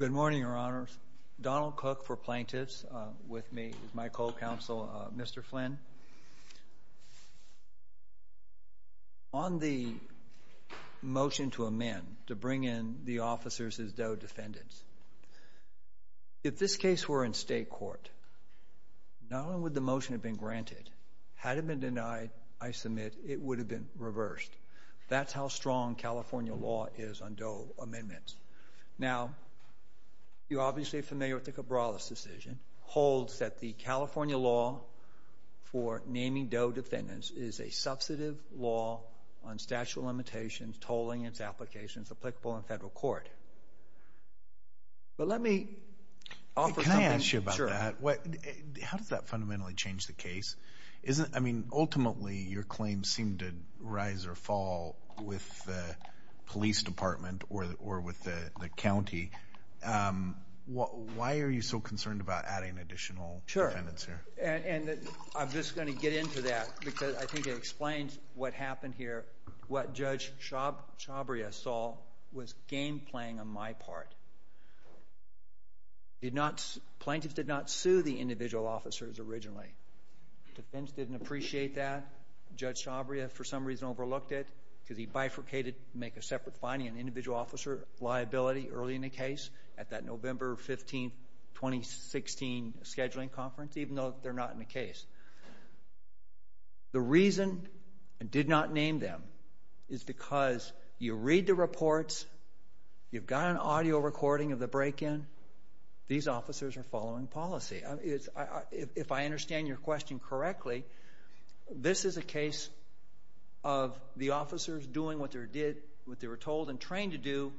Good morning, Your Honors. Donald Cook for plaintiffs. With me is my co-counsel Mr. Flynn. On the motion to amend, to bring in the officers as though defendants, if this case were in state court, not only would the motion have been granted, had it been denied, I submit, it would have been reversed. That's how strong California law is on Doe amendments. Now, you're obviously familiar with the Cabrales decision, holds that the California law for naming Doe defendants is a substantive law on statute of limitations, tolling, its applications applicable in federal court. But let me offer something. Can I ask you about that? How does that fundamentally change the case? I mean, ultimately your claim seemed to rise or fall with the police department or with the county. Why are you so concerned about adding additional defendants here? Sure, and I'm just going to get into that because I think it explains what happened here, what Judge Chabria saw was game playing on my part. Plaintiffs did not sue the individual Chabria for some reason overlooked it because he bifurcated, make a separate finding on individual officer liability early in the case at that November 15, 2016, scheduling conference, even though they're not in the case. The reason I did not name them is because you read the reports, you've got an audio recording of the break-in, these officers are following policy. If I understand your question correctly, this is a case of the officers doing what they were told and trained to do,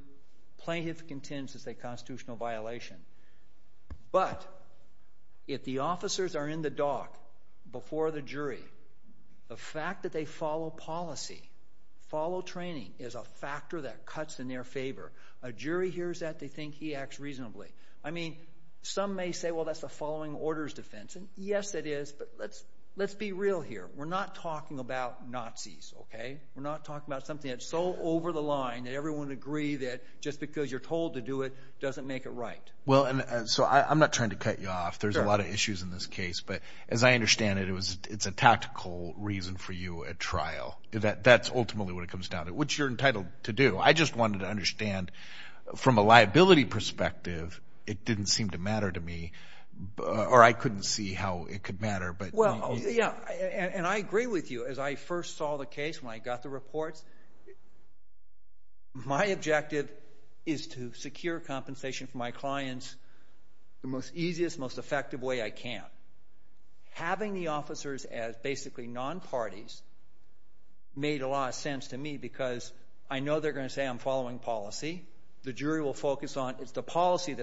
plaintiff contends it's a constitutional violation. But if the officers are in the dock before the jury, the fact that they follow policy, follow training is a factor that cuts in their favor. A jury hears that, they think he acts reasonably. I mean, some may say, well, that's a following orders defense, and yes it is, but let's be real here. We're not talking about Nazis, okay? We're not talking about something that's so over the line that everyone would agree that just because you're told to do it doesn't make it right. Well, and so I'm not trying to cut you off. There's a lot of issues in this case, but as I understand it, it's a tactical reason for you at trial. That's ultimately what it it didn't seem to matter to me, or I couldn't see how it could matter, but... Well, yeah, and I agree with you. As I first saw the case, when I got the reports, my objective is to secure compensation for my clients the most easiest, most effective way I can. Having the officers as basically non-parties made a lot of sense to me because I know they're the policy that's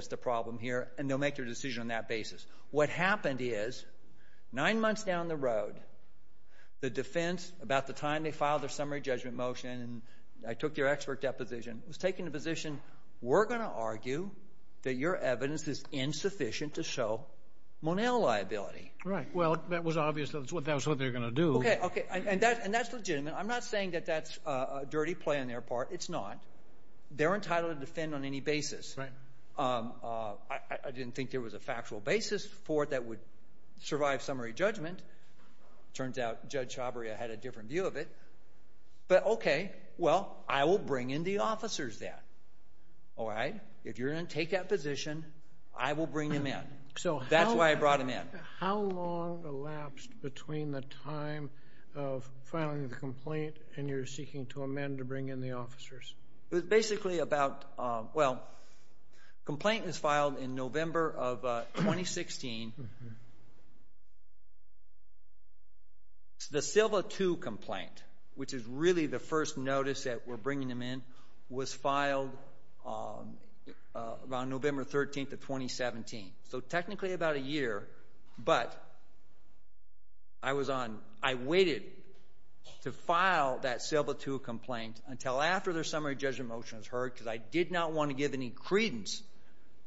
the problem here, and they'll make their decision on that basis. What happened is, nine months down the road, the defense, about the time they filed their summary judgment motion, and I took their expert deposition, was taking the position, we're going to argue that your evidence is insufficient to show Monell liability. Right. Well, that was obvious that that was what they were going to do. Okay, okay, and that's legitimate. I'm not saying that that's a dirty play on their part. It's not. They're entitled to defend on any basis. I didn't think there was a factual basis for it that would survive summary judgment. Turns out Judge Chabria had a different view of it, but okay, well, I will bring in the officers then, all right? If you're going to take that position, I will bring them in. That's why I brought them in. How long elapsed between the time of filing the complaint and your seeking to amend to the officers? It was basically about, well, complaint was filed in November of 2016. The Silva 2 complaint, which is really the first notice that we're bringing them in, was filed around November 13th of 2017, so technically about a year, but I was on, I waited to file that Silva 2 complaint until after their summary judgment motion was heard because I did not want to give any credence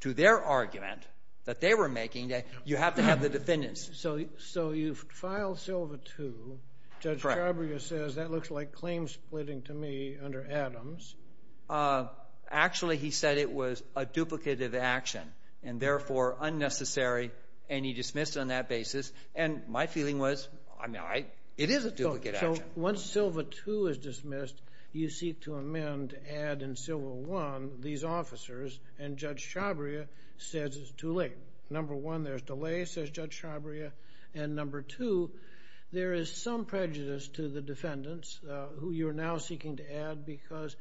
to their argument that they were making that you have to have the defendants. So you filed Silva 2, Judge Chabria says that looks like claim splitting to me under Adams. Actually, he said it was a duplicated action and therefore unnecessary, and he dismissed it on that basis, and my feeling was, I mean, it is a duplicated action. So once Silva 2 is dismissed, you seek to amend to add in Silva 1 these officers, and Judge Chabria says it's too late. Number one, there's delay, says Judge Chabria, and number two, there is some prejudice to the defendants who you're now seeking to add because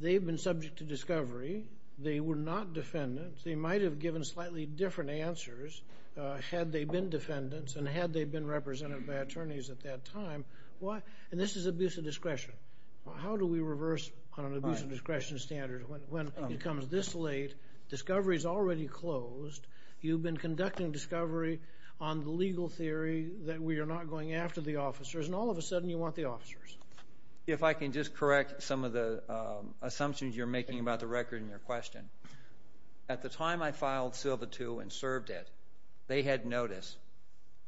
they've been subject to discovery. They were not defendants. They might have given slightly different answers had they been defendants and had they been represented by attorneys at that time. And this is abuse of discretion. How do we reverse on an abuse of discretion standard when it comes this late, discovery's already closed, you've been conducting discovery on the legal theory that we are not going after the officers, and all of a sudden you want the officers. If I can just correct some of the assumptions you're making about the record in your question. At the time I filed Silva 2 and served it, they had notice,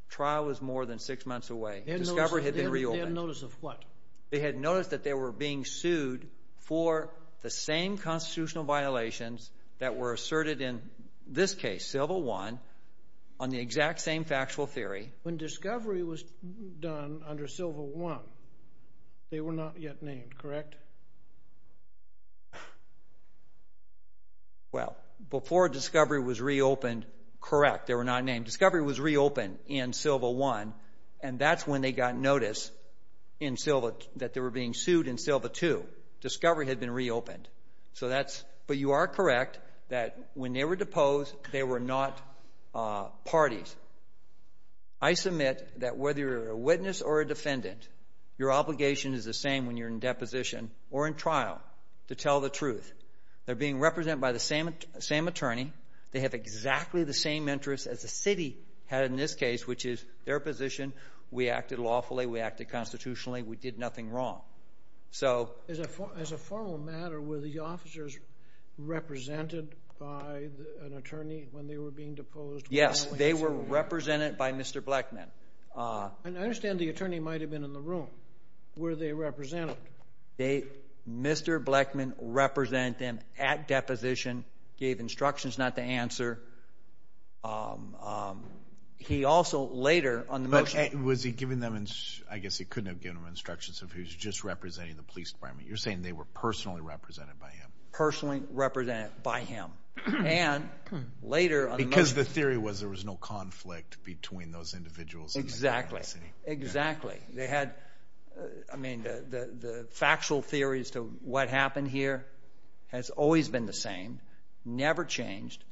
trial was more than six months away, discovery had been reopened. They had notice of what? They had notice that they were being sued for the same constitutional violations that were asserted in this case, Silva 1, on the exact same factual theory. When discovery was done under Silva 1, they were not yet named, correct? Well, before discovery was reopened, correct, they were not named. Discovery was reopened in Silva 1, and that's when they got notice that they were being sued in Silva 2. Discovery had been reopened. So that's, but you are correct that when they were deposed, they were not parties. I submit that whether you're a witness or a defendant, your obligation is the same when you're in deposition or in trial to tell the truth. They're being represented by the same attorney. They have exactly the same interests as the city had in this case, which is their position. We acted lawfully. We acted constitutionally. We did nothing wrong. So... As a formal matter, were the officers represented by an attorney when they were being deposed? Yes, they were represented by Mr. Blackman. And I understand the attorney might have been in the room. Were they represented? They, Mr. Blackman represented them at deposition, gave instructions not to answer. He also later on the motion... Was he giving them, I guess he couldn't have given them instructions if he was just representing the police department. You're saying they were personally represented by him. Personally represented by him. And later on the motion... Because the theory was there was no conflict between those individuals in the city. Exactly. They had, I mean, the factual theories to what happened here has always been the same, never changed.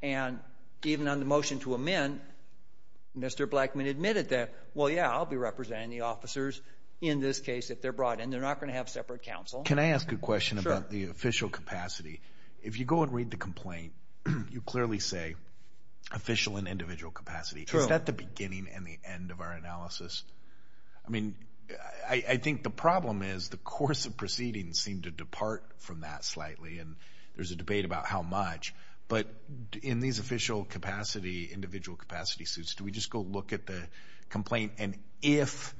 And even on the motion to amend, Mr. Blackman admitted that, well, yeah, I'll be representing the officers in this case if they're brought in. They're not going to have separate counsel. Can I ask a question about the official capacity? If you go and read the complaint, you clearly say official and individual capacity. Is that the beginning and the end of our analysis? I mean, I think the problem is the course of proceedings seem to depart from that slightly. And there's a debate about how much. But in these official capacity, individual capacity suits, do we just go look at the complaint? And if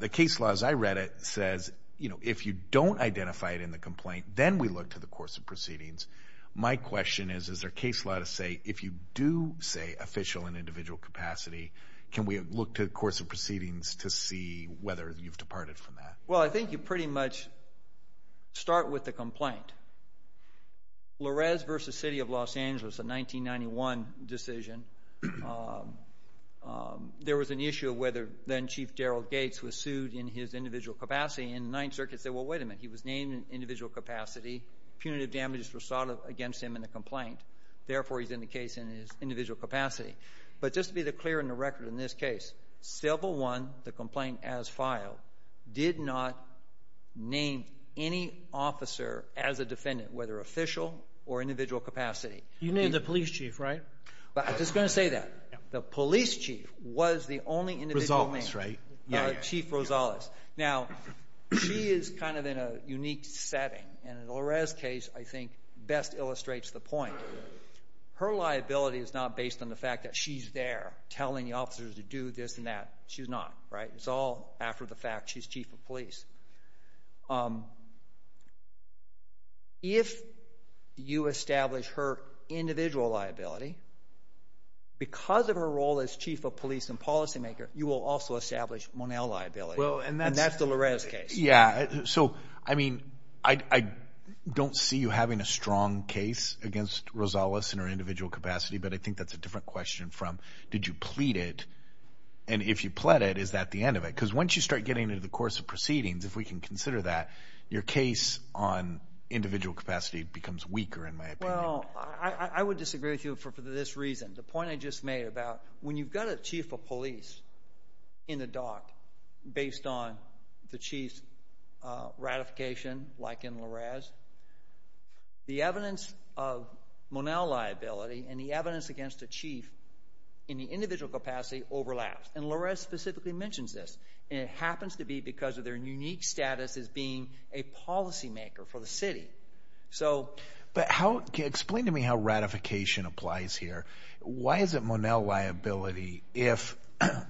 the case law, as I read it, says, you know, if you don't identify it in the complaint, then we look to the course of proceedings. My question is, is there case law to say, if you do say official and individual capacity, can we look to the course of proceedings to see whether you've departed from that? Well, I think you pretty much start with the complaint. Lorez versus City of Los Angeles, a 1991 decision, there was an issue of whether then Chief Darrell Gates was sued in his individual capacity. And the Ninth Circuit said, well, wait a minute, he was named in individual capacity. Punitive damages were sought against him in the complaint. Therefore, he's in the case in his individual capacity. But just to be clear in the record in this case, civil one, the complaint as filed, did not name any officer as a defendant, whether official or individual capacity. You named the police chief, right? I'm just going to say that. The police chief was the only individual name. Rosales, right? Yeah, Chief Rosales. Now, she is kind of in a unique setting. And in Lorez's case, I think, best illustrates the point. Her liability is not based on the fact that she's there telling the officers to do this and that. She's not, right? It's all after the fact she's chief of police. If you establish her individual liability, because of her role as chief of police and policymaker, you will also establish Monell liability. And that's the Lorez case. Yeah. So, I mean, I don't see you having a strong case against Rosales in her individual capacity. But I think that's a different question from, did you plead it? And if you pled it, is that the end of it? Because once you start getting into the course of proceedings, if we can consider that, your case on individual capacity becomes weaker, in my opinion. Well, I would disagree with you for this reason. The point I just made about when you've got a chief of police in the dock, based on the chief's ratification, like in Lorez, the evidence of Monell liability and the evidence against the chief in the individual capacity overlaps. And Lorez specifically mentions this. And it happens to be because of their unique status as being a policymaker for the city. So, but how, explain to me how ratification applies here. Why is it Monell liability if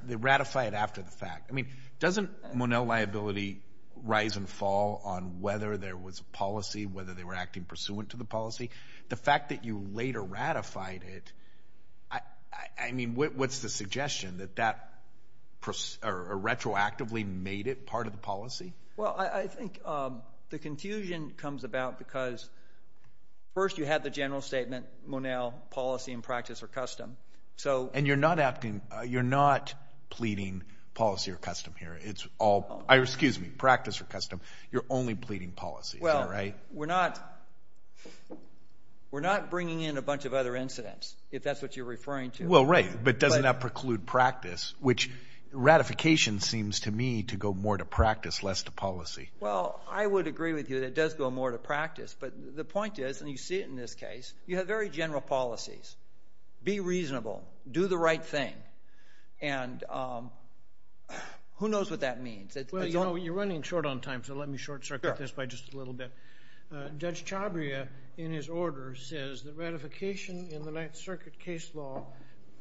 they ratify it after the fact? I mean, doesn't Monell liability rise and fall on whether there was a policy, whether they were acting pursuant to the policy? The fact that you later ratified it, I mean, what's the suggestion, that that retroactively made it part of the policy? Well, I think the confusion comes about because first you had the general statement, Monell policy and practice are custom. So. And you're not acting, you're not pleading policy or custom here. It's all, excuse me, practice or custom. You're only pleading policy, right? We're not, we're not bringing in a bunch of other incidents, if that's what you're referring to. Well, right. But doesn't that preclude practice, which ratification seems to me to go more to practice, less to policy. Well, I would agree with you that it does go more to practice. But the point is, and you see it in this case, you have very general policies. Be reasonable, do the right thing. And who knows what that means? Well, you're running short on time, so let me short circuit this by just a little bit. Judge Chabria, in his order, says that ratification in the Ninth Circuit case law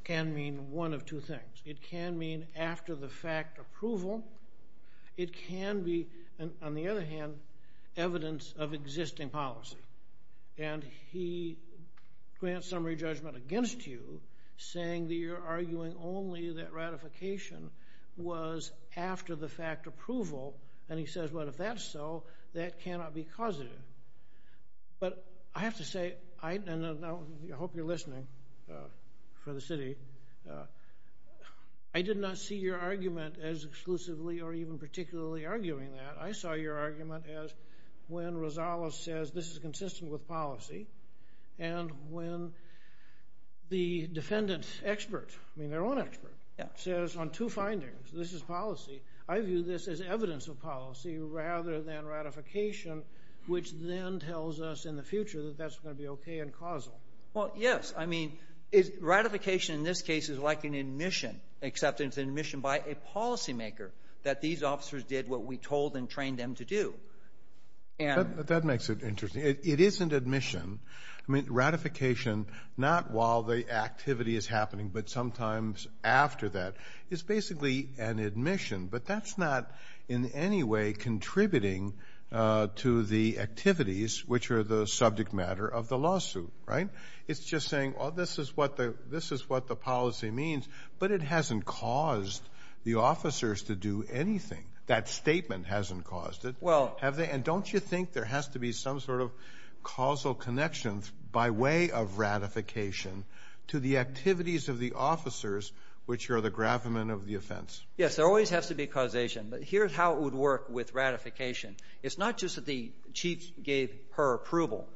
can mean one of two things. It can mean after the fact approval. It can be, on the other hand, evidence of existing policy. And he grants summary judgment against you, saying that you're arguing only that ratification was after the fact approval. And he says, well, if that's so, that cannot be causative. But I have to say, and I hope you're listening for the city, I did not see your argument as exclusively or even particularly arguing that. I saw your Rosales says this is consistent with policy. And when the defendant expert, I mean their own expert, says on two findings, this is policy, I view this as evidence of policy rather than ratification, which then tells us in the future that that's going to be okay and causal. Well, yes. I mean, ratification in this case is like an admission, acceptance and admission by a policymaker, that these officers did what we told and trained them to do. That makes it interesting. It isn't admission. I mean, ratification, not while the activity is happening, but sometimes after that, is basically an admission. But that's not in any way contributing to the activities, which are the subject matter of the lawsuit, right? It's just saying, oh, this is what the policy means. But it hasn't caused the officers to do anything. That statement hasn't caused it. Well. And don't you think there has to be some sort of causal connection by way of ratification to the activities of the officers, which are the gravamen of the offense? Yes, there always has to be causation. But here's how it would work with ratification. It's not just that the chief gave her approval,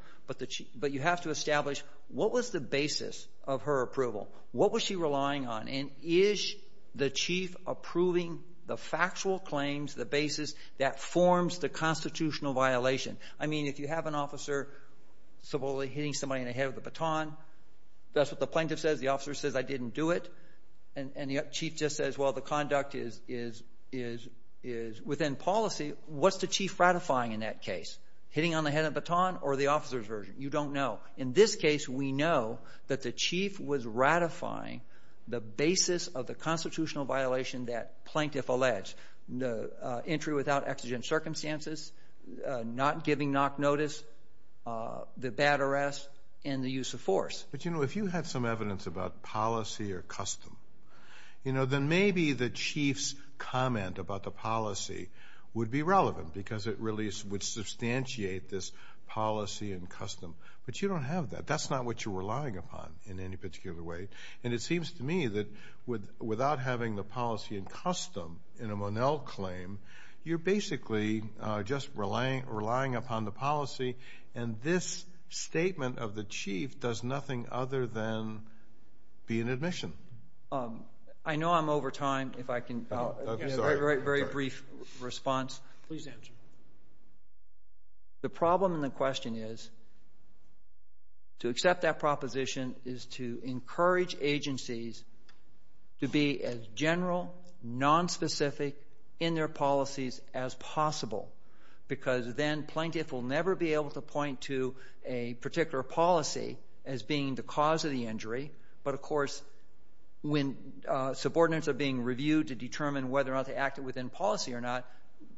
but you have to establish what was the basis of her approval? What was she relying on? And is the chief approving the factual claims, the basis that forms the constitutional violation? I mean, if you have an officer supposedly hitting somebody in the head with a baton, that's what the plaintiff says. The officer says, I didn't do it. And the chief just says, well, the conduct is within policy. What's the chief ratifying in that case? Hitting on the head with a baton or the officer's version? You don't know. In this case, we know that the chief was ratifying the basis of the constitutional violation that plaintiff alleged. Entry without exigent circumstances, not giving knock notice, the bad arrest, and the use of force. But, you know, if you had some evidence about policy or custom, you know, then maybe the chief's comment about the policy would be this policy and custom. But you don't have that. That's not what you're relying upon in any particular way. And it seems to me that without having the policy and custom in a Monell claim, you're basically just relying upon the policy. And this statement of the chief does nothing other than be an admission. I know I'm over time. If I can have a very brief response. Please answer. The problem in the question is to accept that proposition is to encourage agencies to be as general, nonspecific in their policies as possible because then plaintiff will never be able to point to a particular policy as being the cause of the injury. But, of course, when subordinates are being reviewed to determine whether or not they acted within policy or not,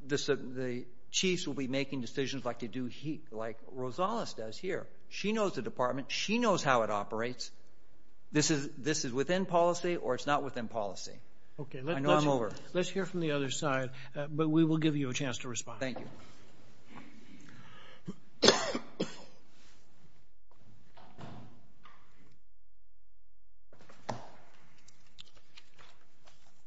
the chiefs will be making decisions like to do like Rosales does here. She knows the department. She knows how it operates. This is within policy or it's not within policy. Okay. I know I'm over. Let's hear from the other side. But we will give you a chance to respond. Thank you.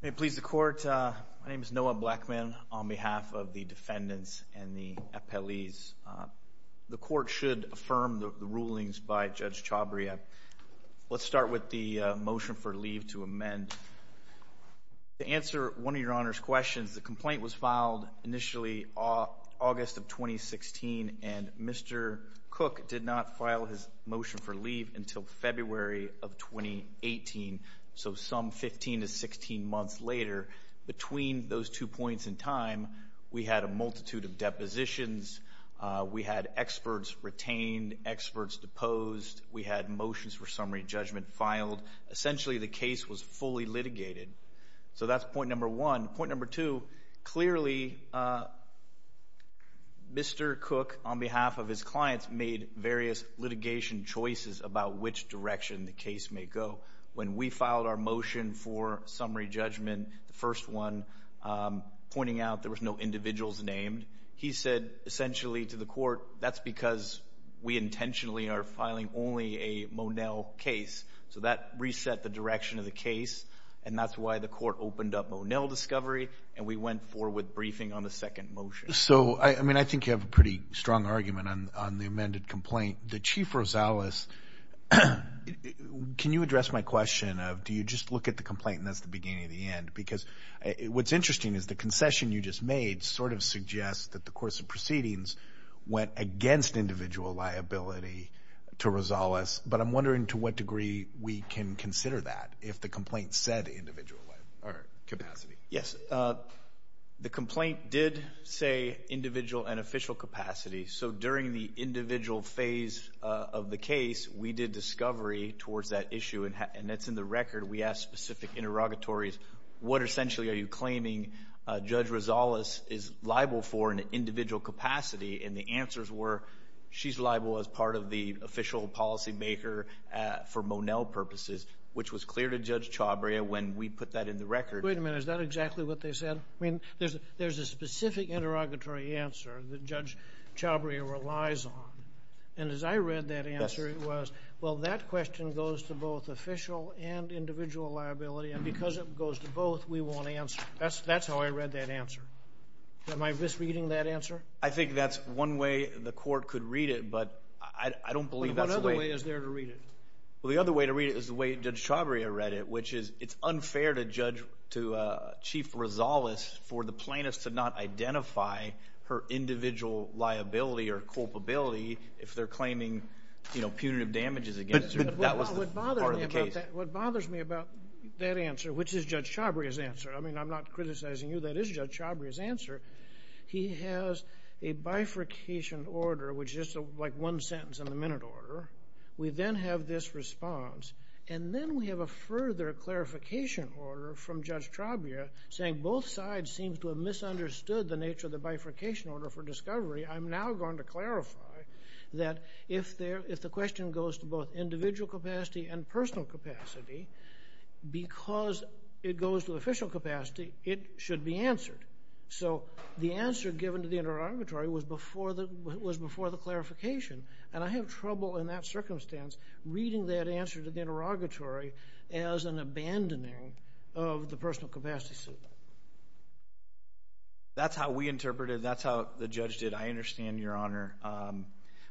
May it please the court. My name is Noah Blackman on behalf of the defendants and the appellees. The court should affirm the rulings by Judge Chabria. Let's start with the motion for leave to amend. To answer one of your Honor's questions, the complaint was filed initially August of 2016 and Mr. Cook did not file his motion for leave until February of 2018, so some 15 to 16 months later. Between those two points in time, we had a multitude of depositions. We had experts retained, experts deposed. We had motions for summary judgment filed. Essentially, the case was fully litigated. So that's point number one. Point number two, clearly, Mr. Cook, on behalf of his clients, made various litigation choices about which direction the case may go. When we filed our motion for summary judgment, the first one pointing out there was no individuals named, he said essentially to the court, that's because we intentionally are filing only a Monell case. So that reset the direction of the case and that's why the court opened up Monell discovery and we went forward with briefing on the second motion. So, I mean, I think you have a pretty strong argument on the amended complaint. The Chief Rosales, can you address my question of do you just look at the complaint and that's the beginning of the end? Because what's interesting is the concession you just made sort of suggests that the course of proceedings went against individual liability to Rosales, but I'm wondering to what degree we can consider that if the complaint said individual capacity. Yes, the complaint did say individual and official capacity. So during the individual phase of the case, we did discovery towards that issue and that's in the record. We asked specific interrogatories, what essentially are you claiming Judge Rosales is liable for Monell purposes, which was clear to Judge Chabria when we put that in the record. Wait a minute, is that exactly what they said? I mean, there's a specific interrogatory answer that Judge Chabria relies on and as I read that answer, it was, well, that question goes to both official and individual liability and because it goes to both, we won't answer. That's how I read that answer. Am I misreading that answer? I think that's one way the court could read it, but I don't believe that's the way. What other way is there to read it? Well, the other way to read it is the way Judge Chabria read it, which is it's unfair to Chief Rosales for the plaintiff to not identify her individual liability or culpability if they're claiming punitive damages against her. That was part of the case. What bothers me about that answer, which is Judge Chabria's answer, I mean, I'm not criticizing you, that is Judge Chabria's a bifurcation order, which is like one sentence in the minute order. We then have this response and then we have a further clarification order from Judge Chabria saying both sides seem to have misunderstood the nature of the bifurcation order for discovery. I'm now going to clarify that if the question goes to both individual capacity and personal capacity, because it was before the clarification, and I have trouble in that circumstance reading that answer to the interrogatory as an abandoning of the personal capacity suit. That's how we interpreted it. That's how the judge did it. I understand, Your Honor,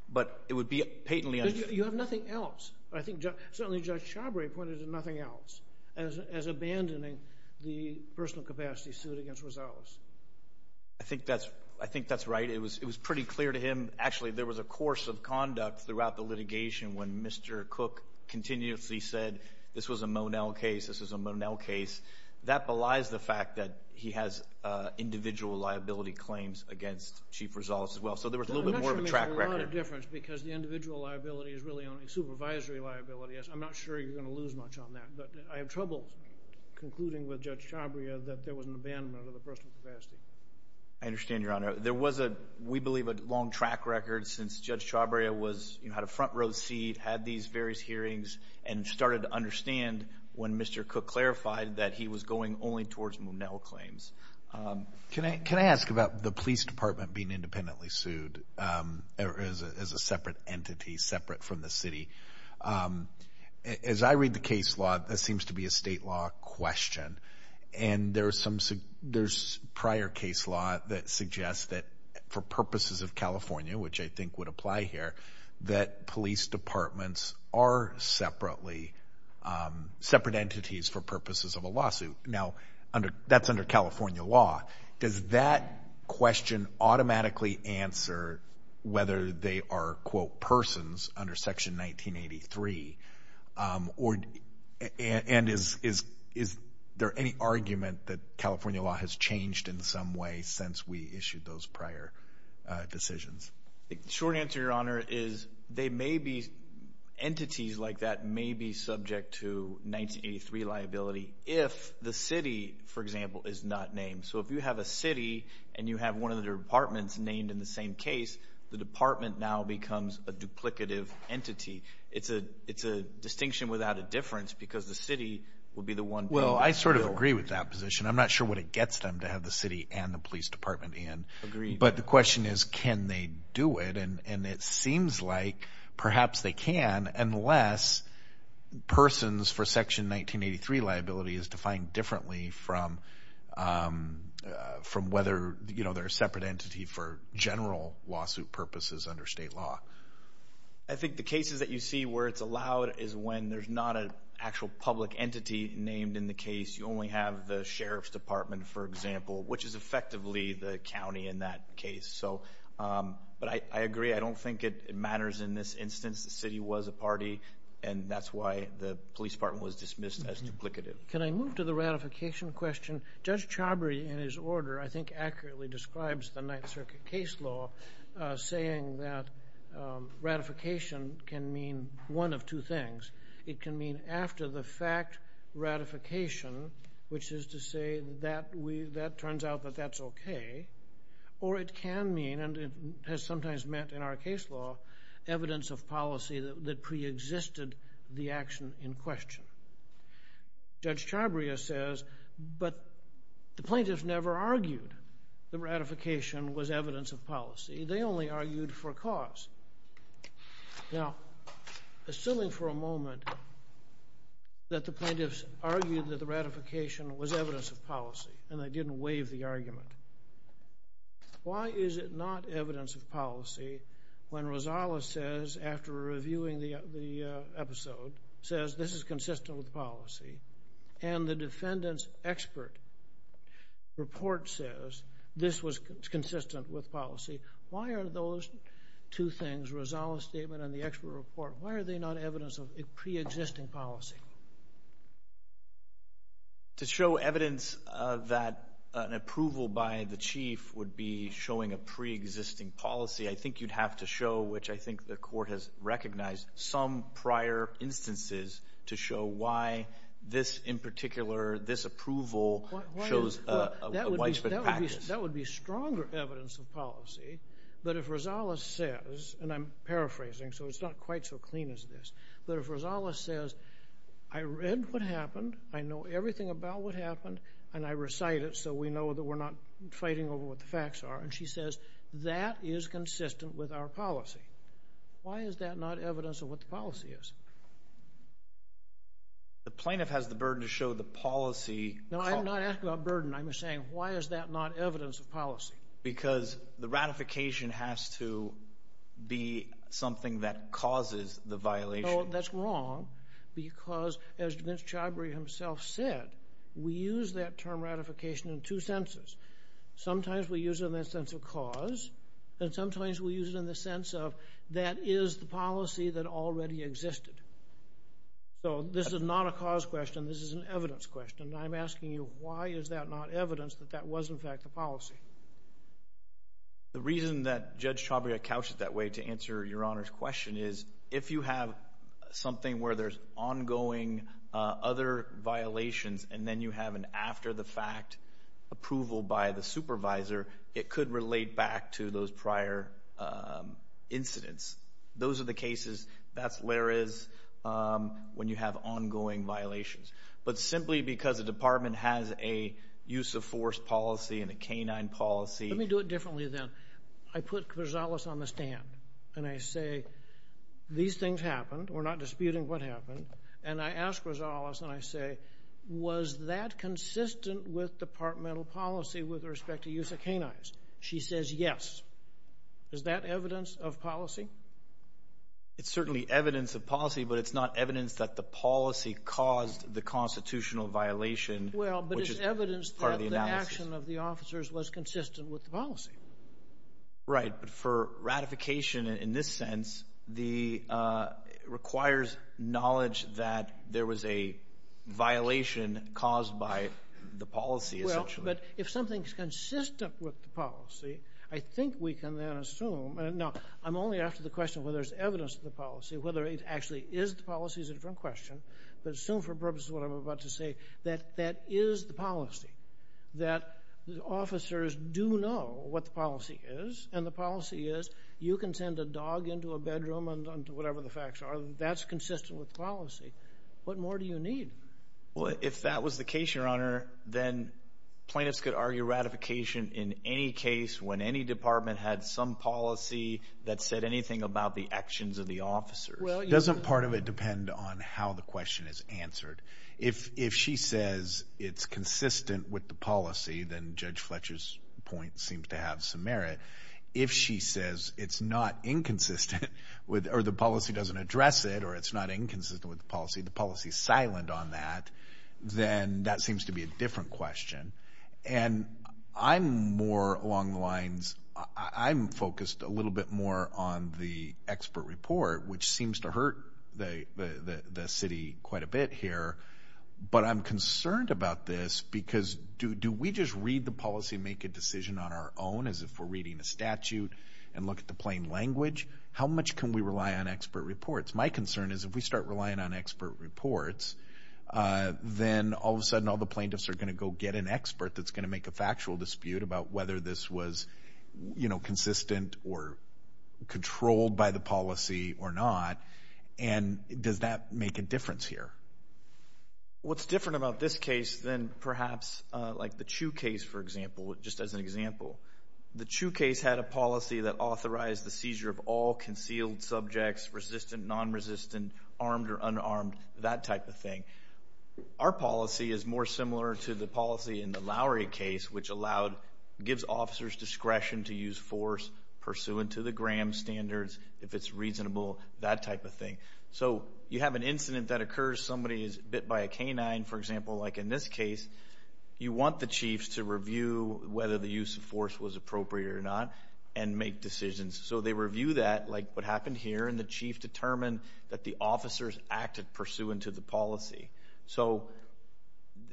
but it would be patently unfair. You have nothing else. I think certainly Judge Chabria pointed to nothing else as abandoning the personal capacity suit against Rosales. I think that's right. It was pretty clear to him. Actually, there was a course of conduct throughout the litigation when Mr. Cook continuously said this was a Monell case, this was a Monell case. That belies the fact that he has individual liability claims against Chief Rosales as well, so there was a little bit more of a track record. I'm not sure it makes a lot of difference because the individual liability is really only supervisory liability. I'm not sure you're going to lose much on that, but I have trouble concluding with Judge Chabria that there was an abandonment of the personal capacity. I understand, Your Honor. There was, we believe, a long track record since Judge Chabria had a front row seat, had these various hearings, and started to understand when Mr. Cook clarified that he was going only towards Monell claims. Can I ask about the police department being independently sued as a separate entity, separate from the city? As I read the case law, that question, and there's prior case law that suggests that for purposes of California, which I think would apply here, that police departments are separate entities for purposes of a lawsuit. Now, that's under California law. Does that question automatically answer whether they are, quote, persons under Section 1983? And is there any argument that California law has changed in some way since we issued those prior decisions? The short answer, Your Honor, is they may be, entities like that may be subject to 1983 liability if the city, for example, is not named. So if you have a city and you have one of the departments named in the same case, the department now becomes a duplicative entity. It's a distinction without a difference because the city will be the one. Well, I sort of agree with that position. I'm not sure what it gets them to have the city and the police department in. Agreed. But the question is, can they do it? And it seems like perhaps they can, unless persons for Section 1983 liability is defined differently from whether they're a separate entity for general lawsuit purposes under state law. I think the cases that you see where it's allowed is when there's not an actual public entity named in the case. You only have the sheriff's department, for example, which is effectively the county in that case. But I agree. I don't think it matters in this instance. The city was a party, and that's why the police department was dismissed as duplicative. Can I move to the ratification question? Judge Chabry, in his order, I think accurately describes the Ninth Circuit case law saying that ratification can mean one of two things. It can mean after the fact ratification, which is to say that turns out that that's okay. Or it can mean, and it has sometimes meant in our case law, evidence of policy that preexisted the action in question. Judge Chabry says, but the plaintiffs never argued that ratification was evidence of policy. They only argued for cause. Now, assuming for a moment that the plaintiffs argued that the ratification was evidence of policy, and they didn't waive the argument, why is it not evidence of policy when Rosales says, after reviewing the episode, says this is consistent with policy, and the defendant's expert report says this was consistent with policy? Why are those two things, Rosales' statement and the expert report, why are they not evidence of preexisting policy? To show evidence that an approval by the chief would be showing a preexisting policy, I think you'd have to show, which I think the court has recognized, some prior instances to show why this in particular, this approval shows a widespread practice. That would be stronger evidence of policy, but if Rosales says, and I'm paraphrasing so it's not quite so clean as this, but if Rosales says, I read what happened, I know everything about what happened, and I recite it so we know that we're not fighting over what the facts are, and she says, that is consistent with our policy, why is that not evidence of what the policy is? The plaintiff has the burden to show the policy. No, I'm not asking about burden, I'm saying why is that not evidence of policy? Because the ratification has to be something that causes the violation. No, that's wrong, because as Vince Chabry himself said, we use that term ratification in two senses. Sometimes we use it in the sense of cause, and sometimes we use it in the sense of that is the policy that already existed. So this is not a cause question, this is an evidence question, and I'm asking you, why is that not evidence that that was in fact the policy? The reason that Judge Chabry couched it that way to answer Your Honor's question is, if you have something where there's ongoing other violations, and then you have an after the fact approval by the supervisor, it could relate back to those prior incidents. Those are the cases, that's where it is when you have ongoing violations. But simply because a department has a use of force policy and a canine policy. Let me do it differently then. I put Rosales on the stand, and I say, these things happened, we're not disputing what happened, and I ask Rosales, and I say, was that consistent with departmental policy with respect to use of canines? She says yes. Is that evidence of policy? It's certainly evidence of policy, but it's not evidence that the policy caused the constitutional violation, which is part of the analysis. Well, but it's evidence that the action of the officers was consistent with the policy. Right, but for ratification in this sense, it requires knowledge that there was a violation caused by the policy, essentially. Well, but if something's consistent with the policy, I think we can then assume, and now I'm only after the question whether there's evidence of the policy, whether it actually is the policy is a different question, but assume for purposes of what I'm about to say, that that is the policy, that the officers do know what the policy is, and the policy is, you can send a dog into a bedroom and whatever the facts are, that's consistent with policy. What more do you need? Well, if that was the case, Your Honor, then plaintiffs could argue ratification in any case when any department had some policy that said anything about the actions of the officers. Doesn't part of it depend on how the question is answered? If she says it's consistent with the policy, then Judge Fletcher's point seems to have some merit. If she says it's not inconsistent, or the policy doesn't address it, or it's not inconsistent with the policy, the policy's silent on that, then that seems to be a different question. And I'm more along the lines, I'm focused a little bit more on the expert report, which seems to hurt the city quite a bit here, but I'm concerned about this because do we just read the policy and make a decision on our own as if we're reading a statute and look at the plain language? How much can we rely on expert reports? My concern is if we start relying on expert reports, then all of a sudden all the plaintiffs are going to go get an expert that's going to make a factual dispute about whether this was, you know, consistent or controlled by the policy or not. And does that make a difference here? What's different about this case than perhaps like the Chu case, for example, just as an example. The Chu case had a policy that authorized the seizure of all concealed subjects, resistant, non-resistant, armed or unarmed, that type of thing. Our policy is more similar to the policy in the Lowry case, which allowed, gives officers discretion to use force pursuant to the Graham standards, if it's reasonable, that type of thing. So you have an incident that occurs, somebody is bit by a canine, for example, like in this case, you want the chiefs to review whether the use of force was appropriate or not and make decisions. So they review that, like what happened here, and the chief determined that the officers acted pursuant to the policy. So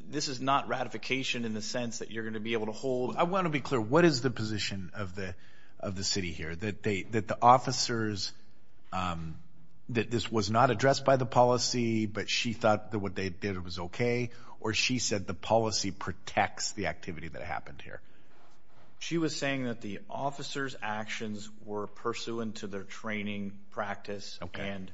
this is not ratification in the sense that you're going to be able to hold. I want to be clear, what is the position of the city here, that the officers, that this was not addressed by the policy, but she thought that what they did was okay, or she said the policy protects the activity that happened here? She was saying that the officers' actions were pursuant to their training practice and training.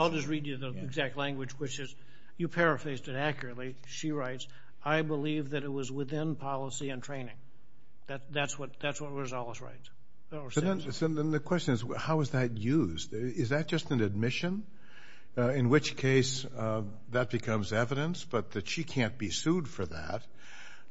I'll just read you the exact language, which is, you paraphrased it accurately, she writes, I believe that it was within policy and training. That's what Rosales writes. So then the question is, how is that used? Is that just an admission? In which case, that becomes evidence, but that she can't be sued for that,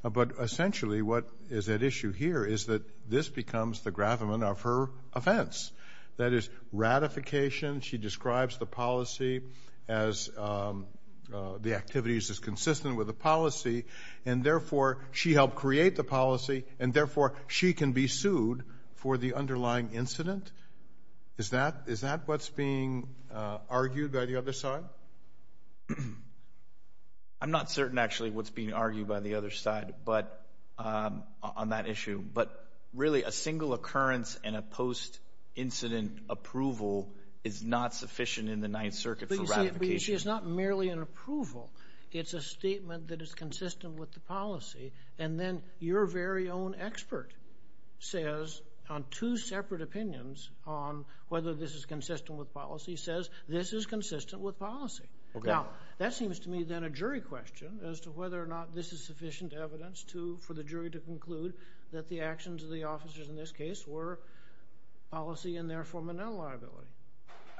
but essentially what is at issue here is that this becomes the gravamen of her offense. That is, ratification, she describes the policy as the activities as consistent with the policy, and therefore she helped create the policy, and therefore she can be sued for the underlying incident? Is that what's being argued by the other side? I'm not certain actually what's being argued by the other side on that issue, but really a single occurrence and a post-incident approval is not sufficient in the Ninth Circuit for ratification. But you see, it's not merely an approval. It's a statement that is consistent with the policy, and then your very own expert says, on two separate opinions on whether this is consistent with policy, says this is consistent with policy. Now, that seems to me then a jury question as to whether or not this is sufficient evidence to, for the jury to conclude that the actions of the officers in this case were policy, and therefore menial liability.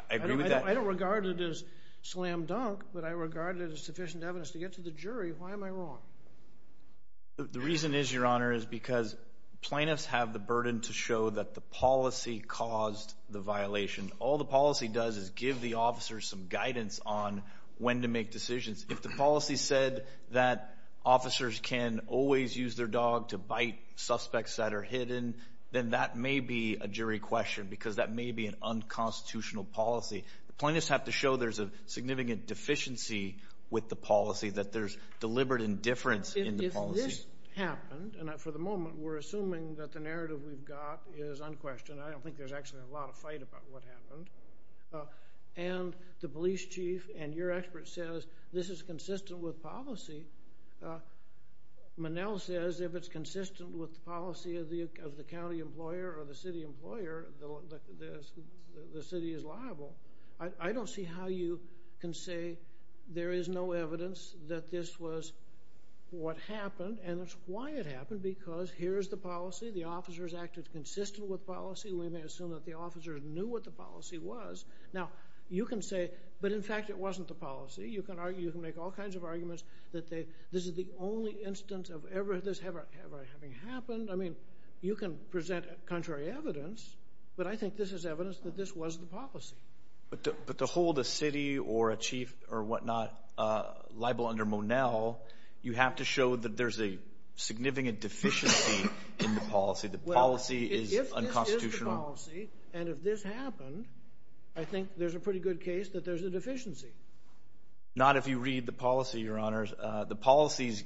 I agree with that. I don't regard it as slam dunk, but I regard it as sufficient evidence to get to the jury. Why am I wrong? The reason is, Your Honor, is because plaintiffs have the burden to show that the policy caused the violation. All the policy does is give the officers some guidance on when to make decisions. If the policy said that officers can always use their dog to bite suspects that are hidden, then that may be a jury question, because that may be an unconstitutional policy. Plaintiffs have to show there's a significant deficiency with the policy, that there's deliberate indifference in the policy. If this happened, and for the moment we're assuming that the narrative we've got is unquestioned, I don't think there's actually a lot of fight about what happened, and the police chief and your expert says this is consistent with policy. Manel says if it's consistent with the policy of the county employer or the city employer, the city is liable. I don't see how you can say there is no evidence that this was what happened, and it's why it happened, because here's the policy. The officers acted consistent with policy. We may assume that the officers knew what the policy was. Now, you can say, but in fact it wasn't the policy. You can make all kinds of arguments that this is the only instance of this ever having happened. I mean, you can present contrary evidence, but I think this is evidence that this was the policy. But to hold a city or a chief or whatnot liable under Monell, you have to show that there's a significant deficiency in the policy, that policy is unconstitutional. And if this happened, I think there's a pretty good case that there's a deficiency. Not if you read the policy, Your Honors. The policies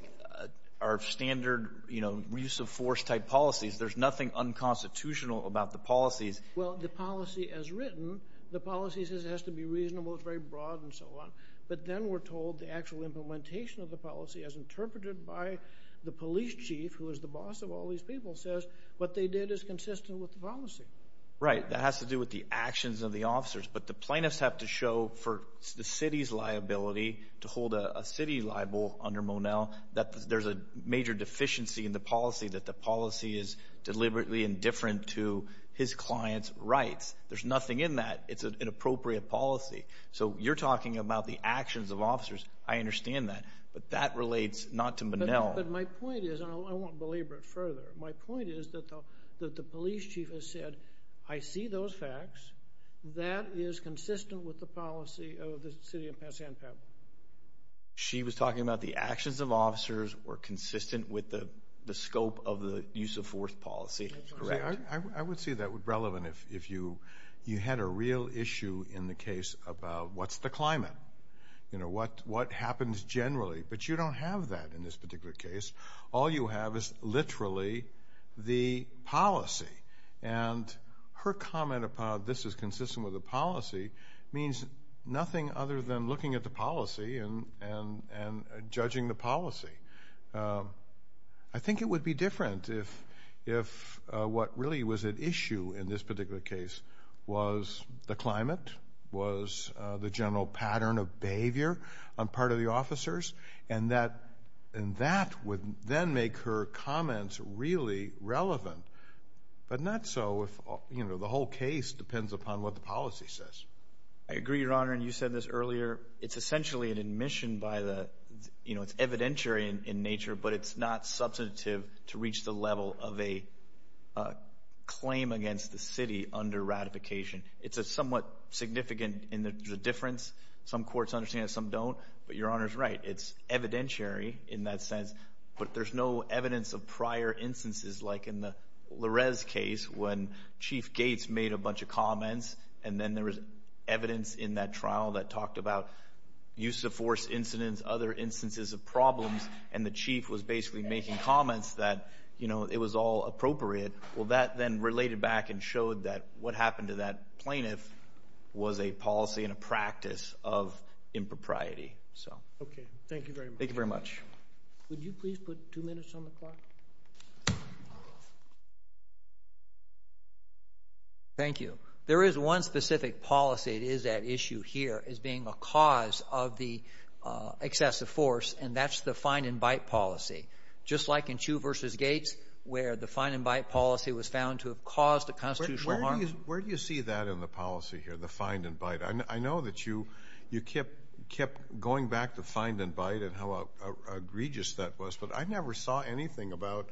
are standard, you know, use-of-force type policies. There's nothing unconstitutional about the policies. Well, the policy as written, the policy says it has to be reasonable, it's very broad, and so on. But then we're told the actual implementation of the policy as interpreted by the police chief, who is the boss of all these people, says what they did is consistent with the policy. Right. That has to do with the actions of the officers. But the plaintiffs have to show for the city's liability to hold a city liable under Monell that there's a major deficiency in the policy, that the policy is deliberately indifferent to his client's rights. There's nothing in that. It's an inappropriate policy. So you're talking about the actions of officers. I understand that. But that relates not to Monell. But my point is, and I won't belabor it further, my point is that the police chief has said, I see those facts, that is consistent with the policy of the city of San Pablo. She was talking about the actions of officers were consistent with the scope of the use-of-force policy. Correct. I would see that relevant if you had a real issue in the case about what's the climate, you know, what happens generally. But you don't have that in this particular case. All you have is literally the policy. And her comment about this is consistent with the policy means nothing other than looking at the policy and judging the policy. I think it would be different if what really was at issue in this particular case was the climate, was the general pattern of behavior on part of the officers, and that would then make her comments really relevant. But not so if, you know, the whole case depends upon what the policy says. I agree, Your Honor, and you said this earlier. It's essentially an admission by the, you know, it's evidentiary in nature, but it's not substantive to reach the level of a claim against the city under ratification. It's somewhat significant in the difference. Some courts understand it, some don't. But Your Honor's right. It's evidentiary in that sense, but there's no evidence of prior instances, like in the Larez case when Chief Gates made a bunch of comments and then there was evidence in that trial that talked about use-of-force incidents, other instances of problems, and the chief was basically making comments that, you know, it was all appropriate. Well, that then related back and showed that what happened to that plaintiff was a policy and a practice of impropriety. Okay. Thank you very much. Thank you very much. Would you please put two minutes on the clock? Thank you. There is one specific policy that is at issue here as being a cause of the excessive force, and that's the find-and-bite policy. Just like in Chew v. Gates where the find-and-bite policy was found to have caused a constitutional harm. Where do you see that in the policy here, the find-and-bite? I know that you kept going back to find-and-bite and how egregious that was, but I never saw anything about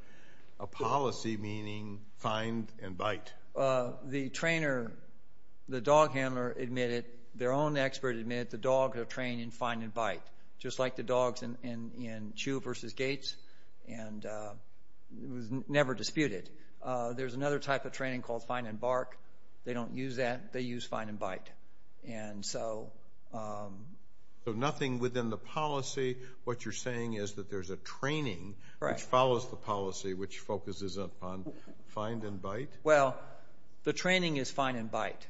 a policy meaning find-and-bite. The trainer, the dog handler admitted, their own expert admitted, that the dogs are trained in find-and-bite, just like the dogs in Chew v. Gates, and it was never disputed. There's another type of training called find-and-bark. They don't use that. They use find-and-bite. So nothing within the policy. What you're saying is that there's a training which follows the policy, which focuses upon find-and-bite? Well, the training is find-and-bite.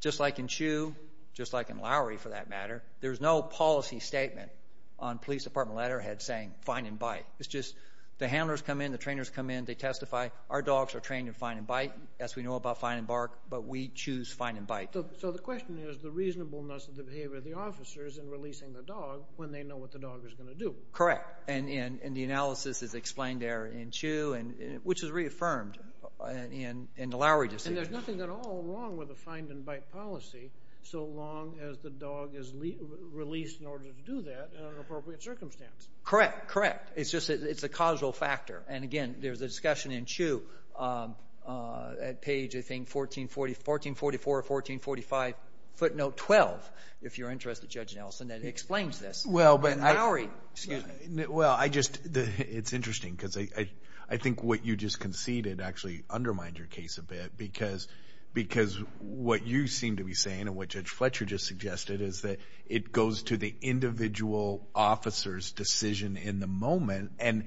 Just like in Chew, just like in Lowry for that matter, there's no policy statement on police department letterhead saying find-and-bite. It's just the handlers come in, the trainers come in, they testify, our dogs are trained in find-and-bite, as we know about find-and-bark, but we choose find-and-bite. So the question is the reasonableness of the behavior of the officers in releasing the dog when they know what the dog is going to do. Correct, and the analysis is explained there in Chew, which is reaffirmed in the Lowry decision. I mean, there's nothing at all wrong with a find-and-bite policy so long as the dog is released in order to do that in an appropriate circumstance. Correct, correct. It's just a causal factor. And, again, there's a discussion in Chew at page, I think, 1444 or 1445, footnote 12, if you're interested, Judge Nelson, that explains this. In Lowry, excuse me. Well, it's interesting because I think what you just conceded actually undermined your case a bit because what you seem to be saying and what Judge Fletcher just suggested is that it goes to the individual officer's decision in the moment, and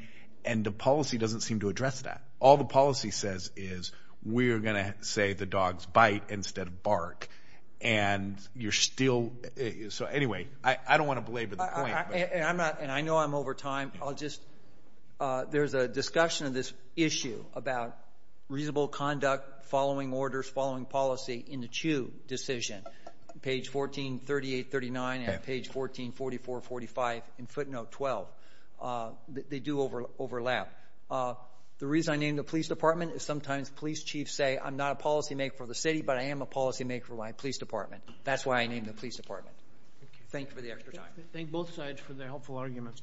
the policy doesn't seem to address that. All the policy says is we're going to say the dogs bite instead of bark, and you're still—so, anyway, I don't want to belabor the point. And I know I'm over time. There's a discussion of this issue about reasonable conduct, following orders, following policy in the Chew decision, page 1438-39 and page 1444-45 in footnote 12. They do overlap. The reason I named the police department is sometimes police chiefs say, I'm not a policymaker for the city, but I am a policymaker for my police department. That's why I named the police department. Thank you for the extra time. Thank both sides for their helpful arguments.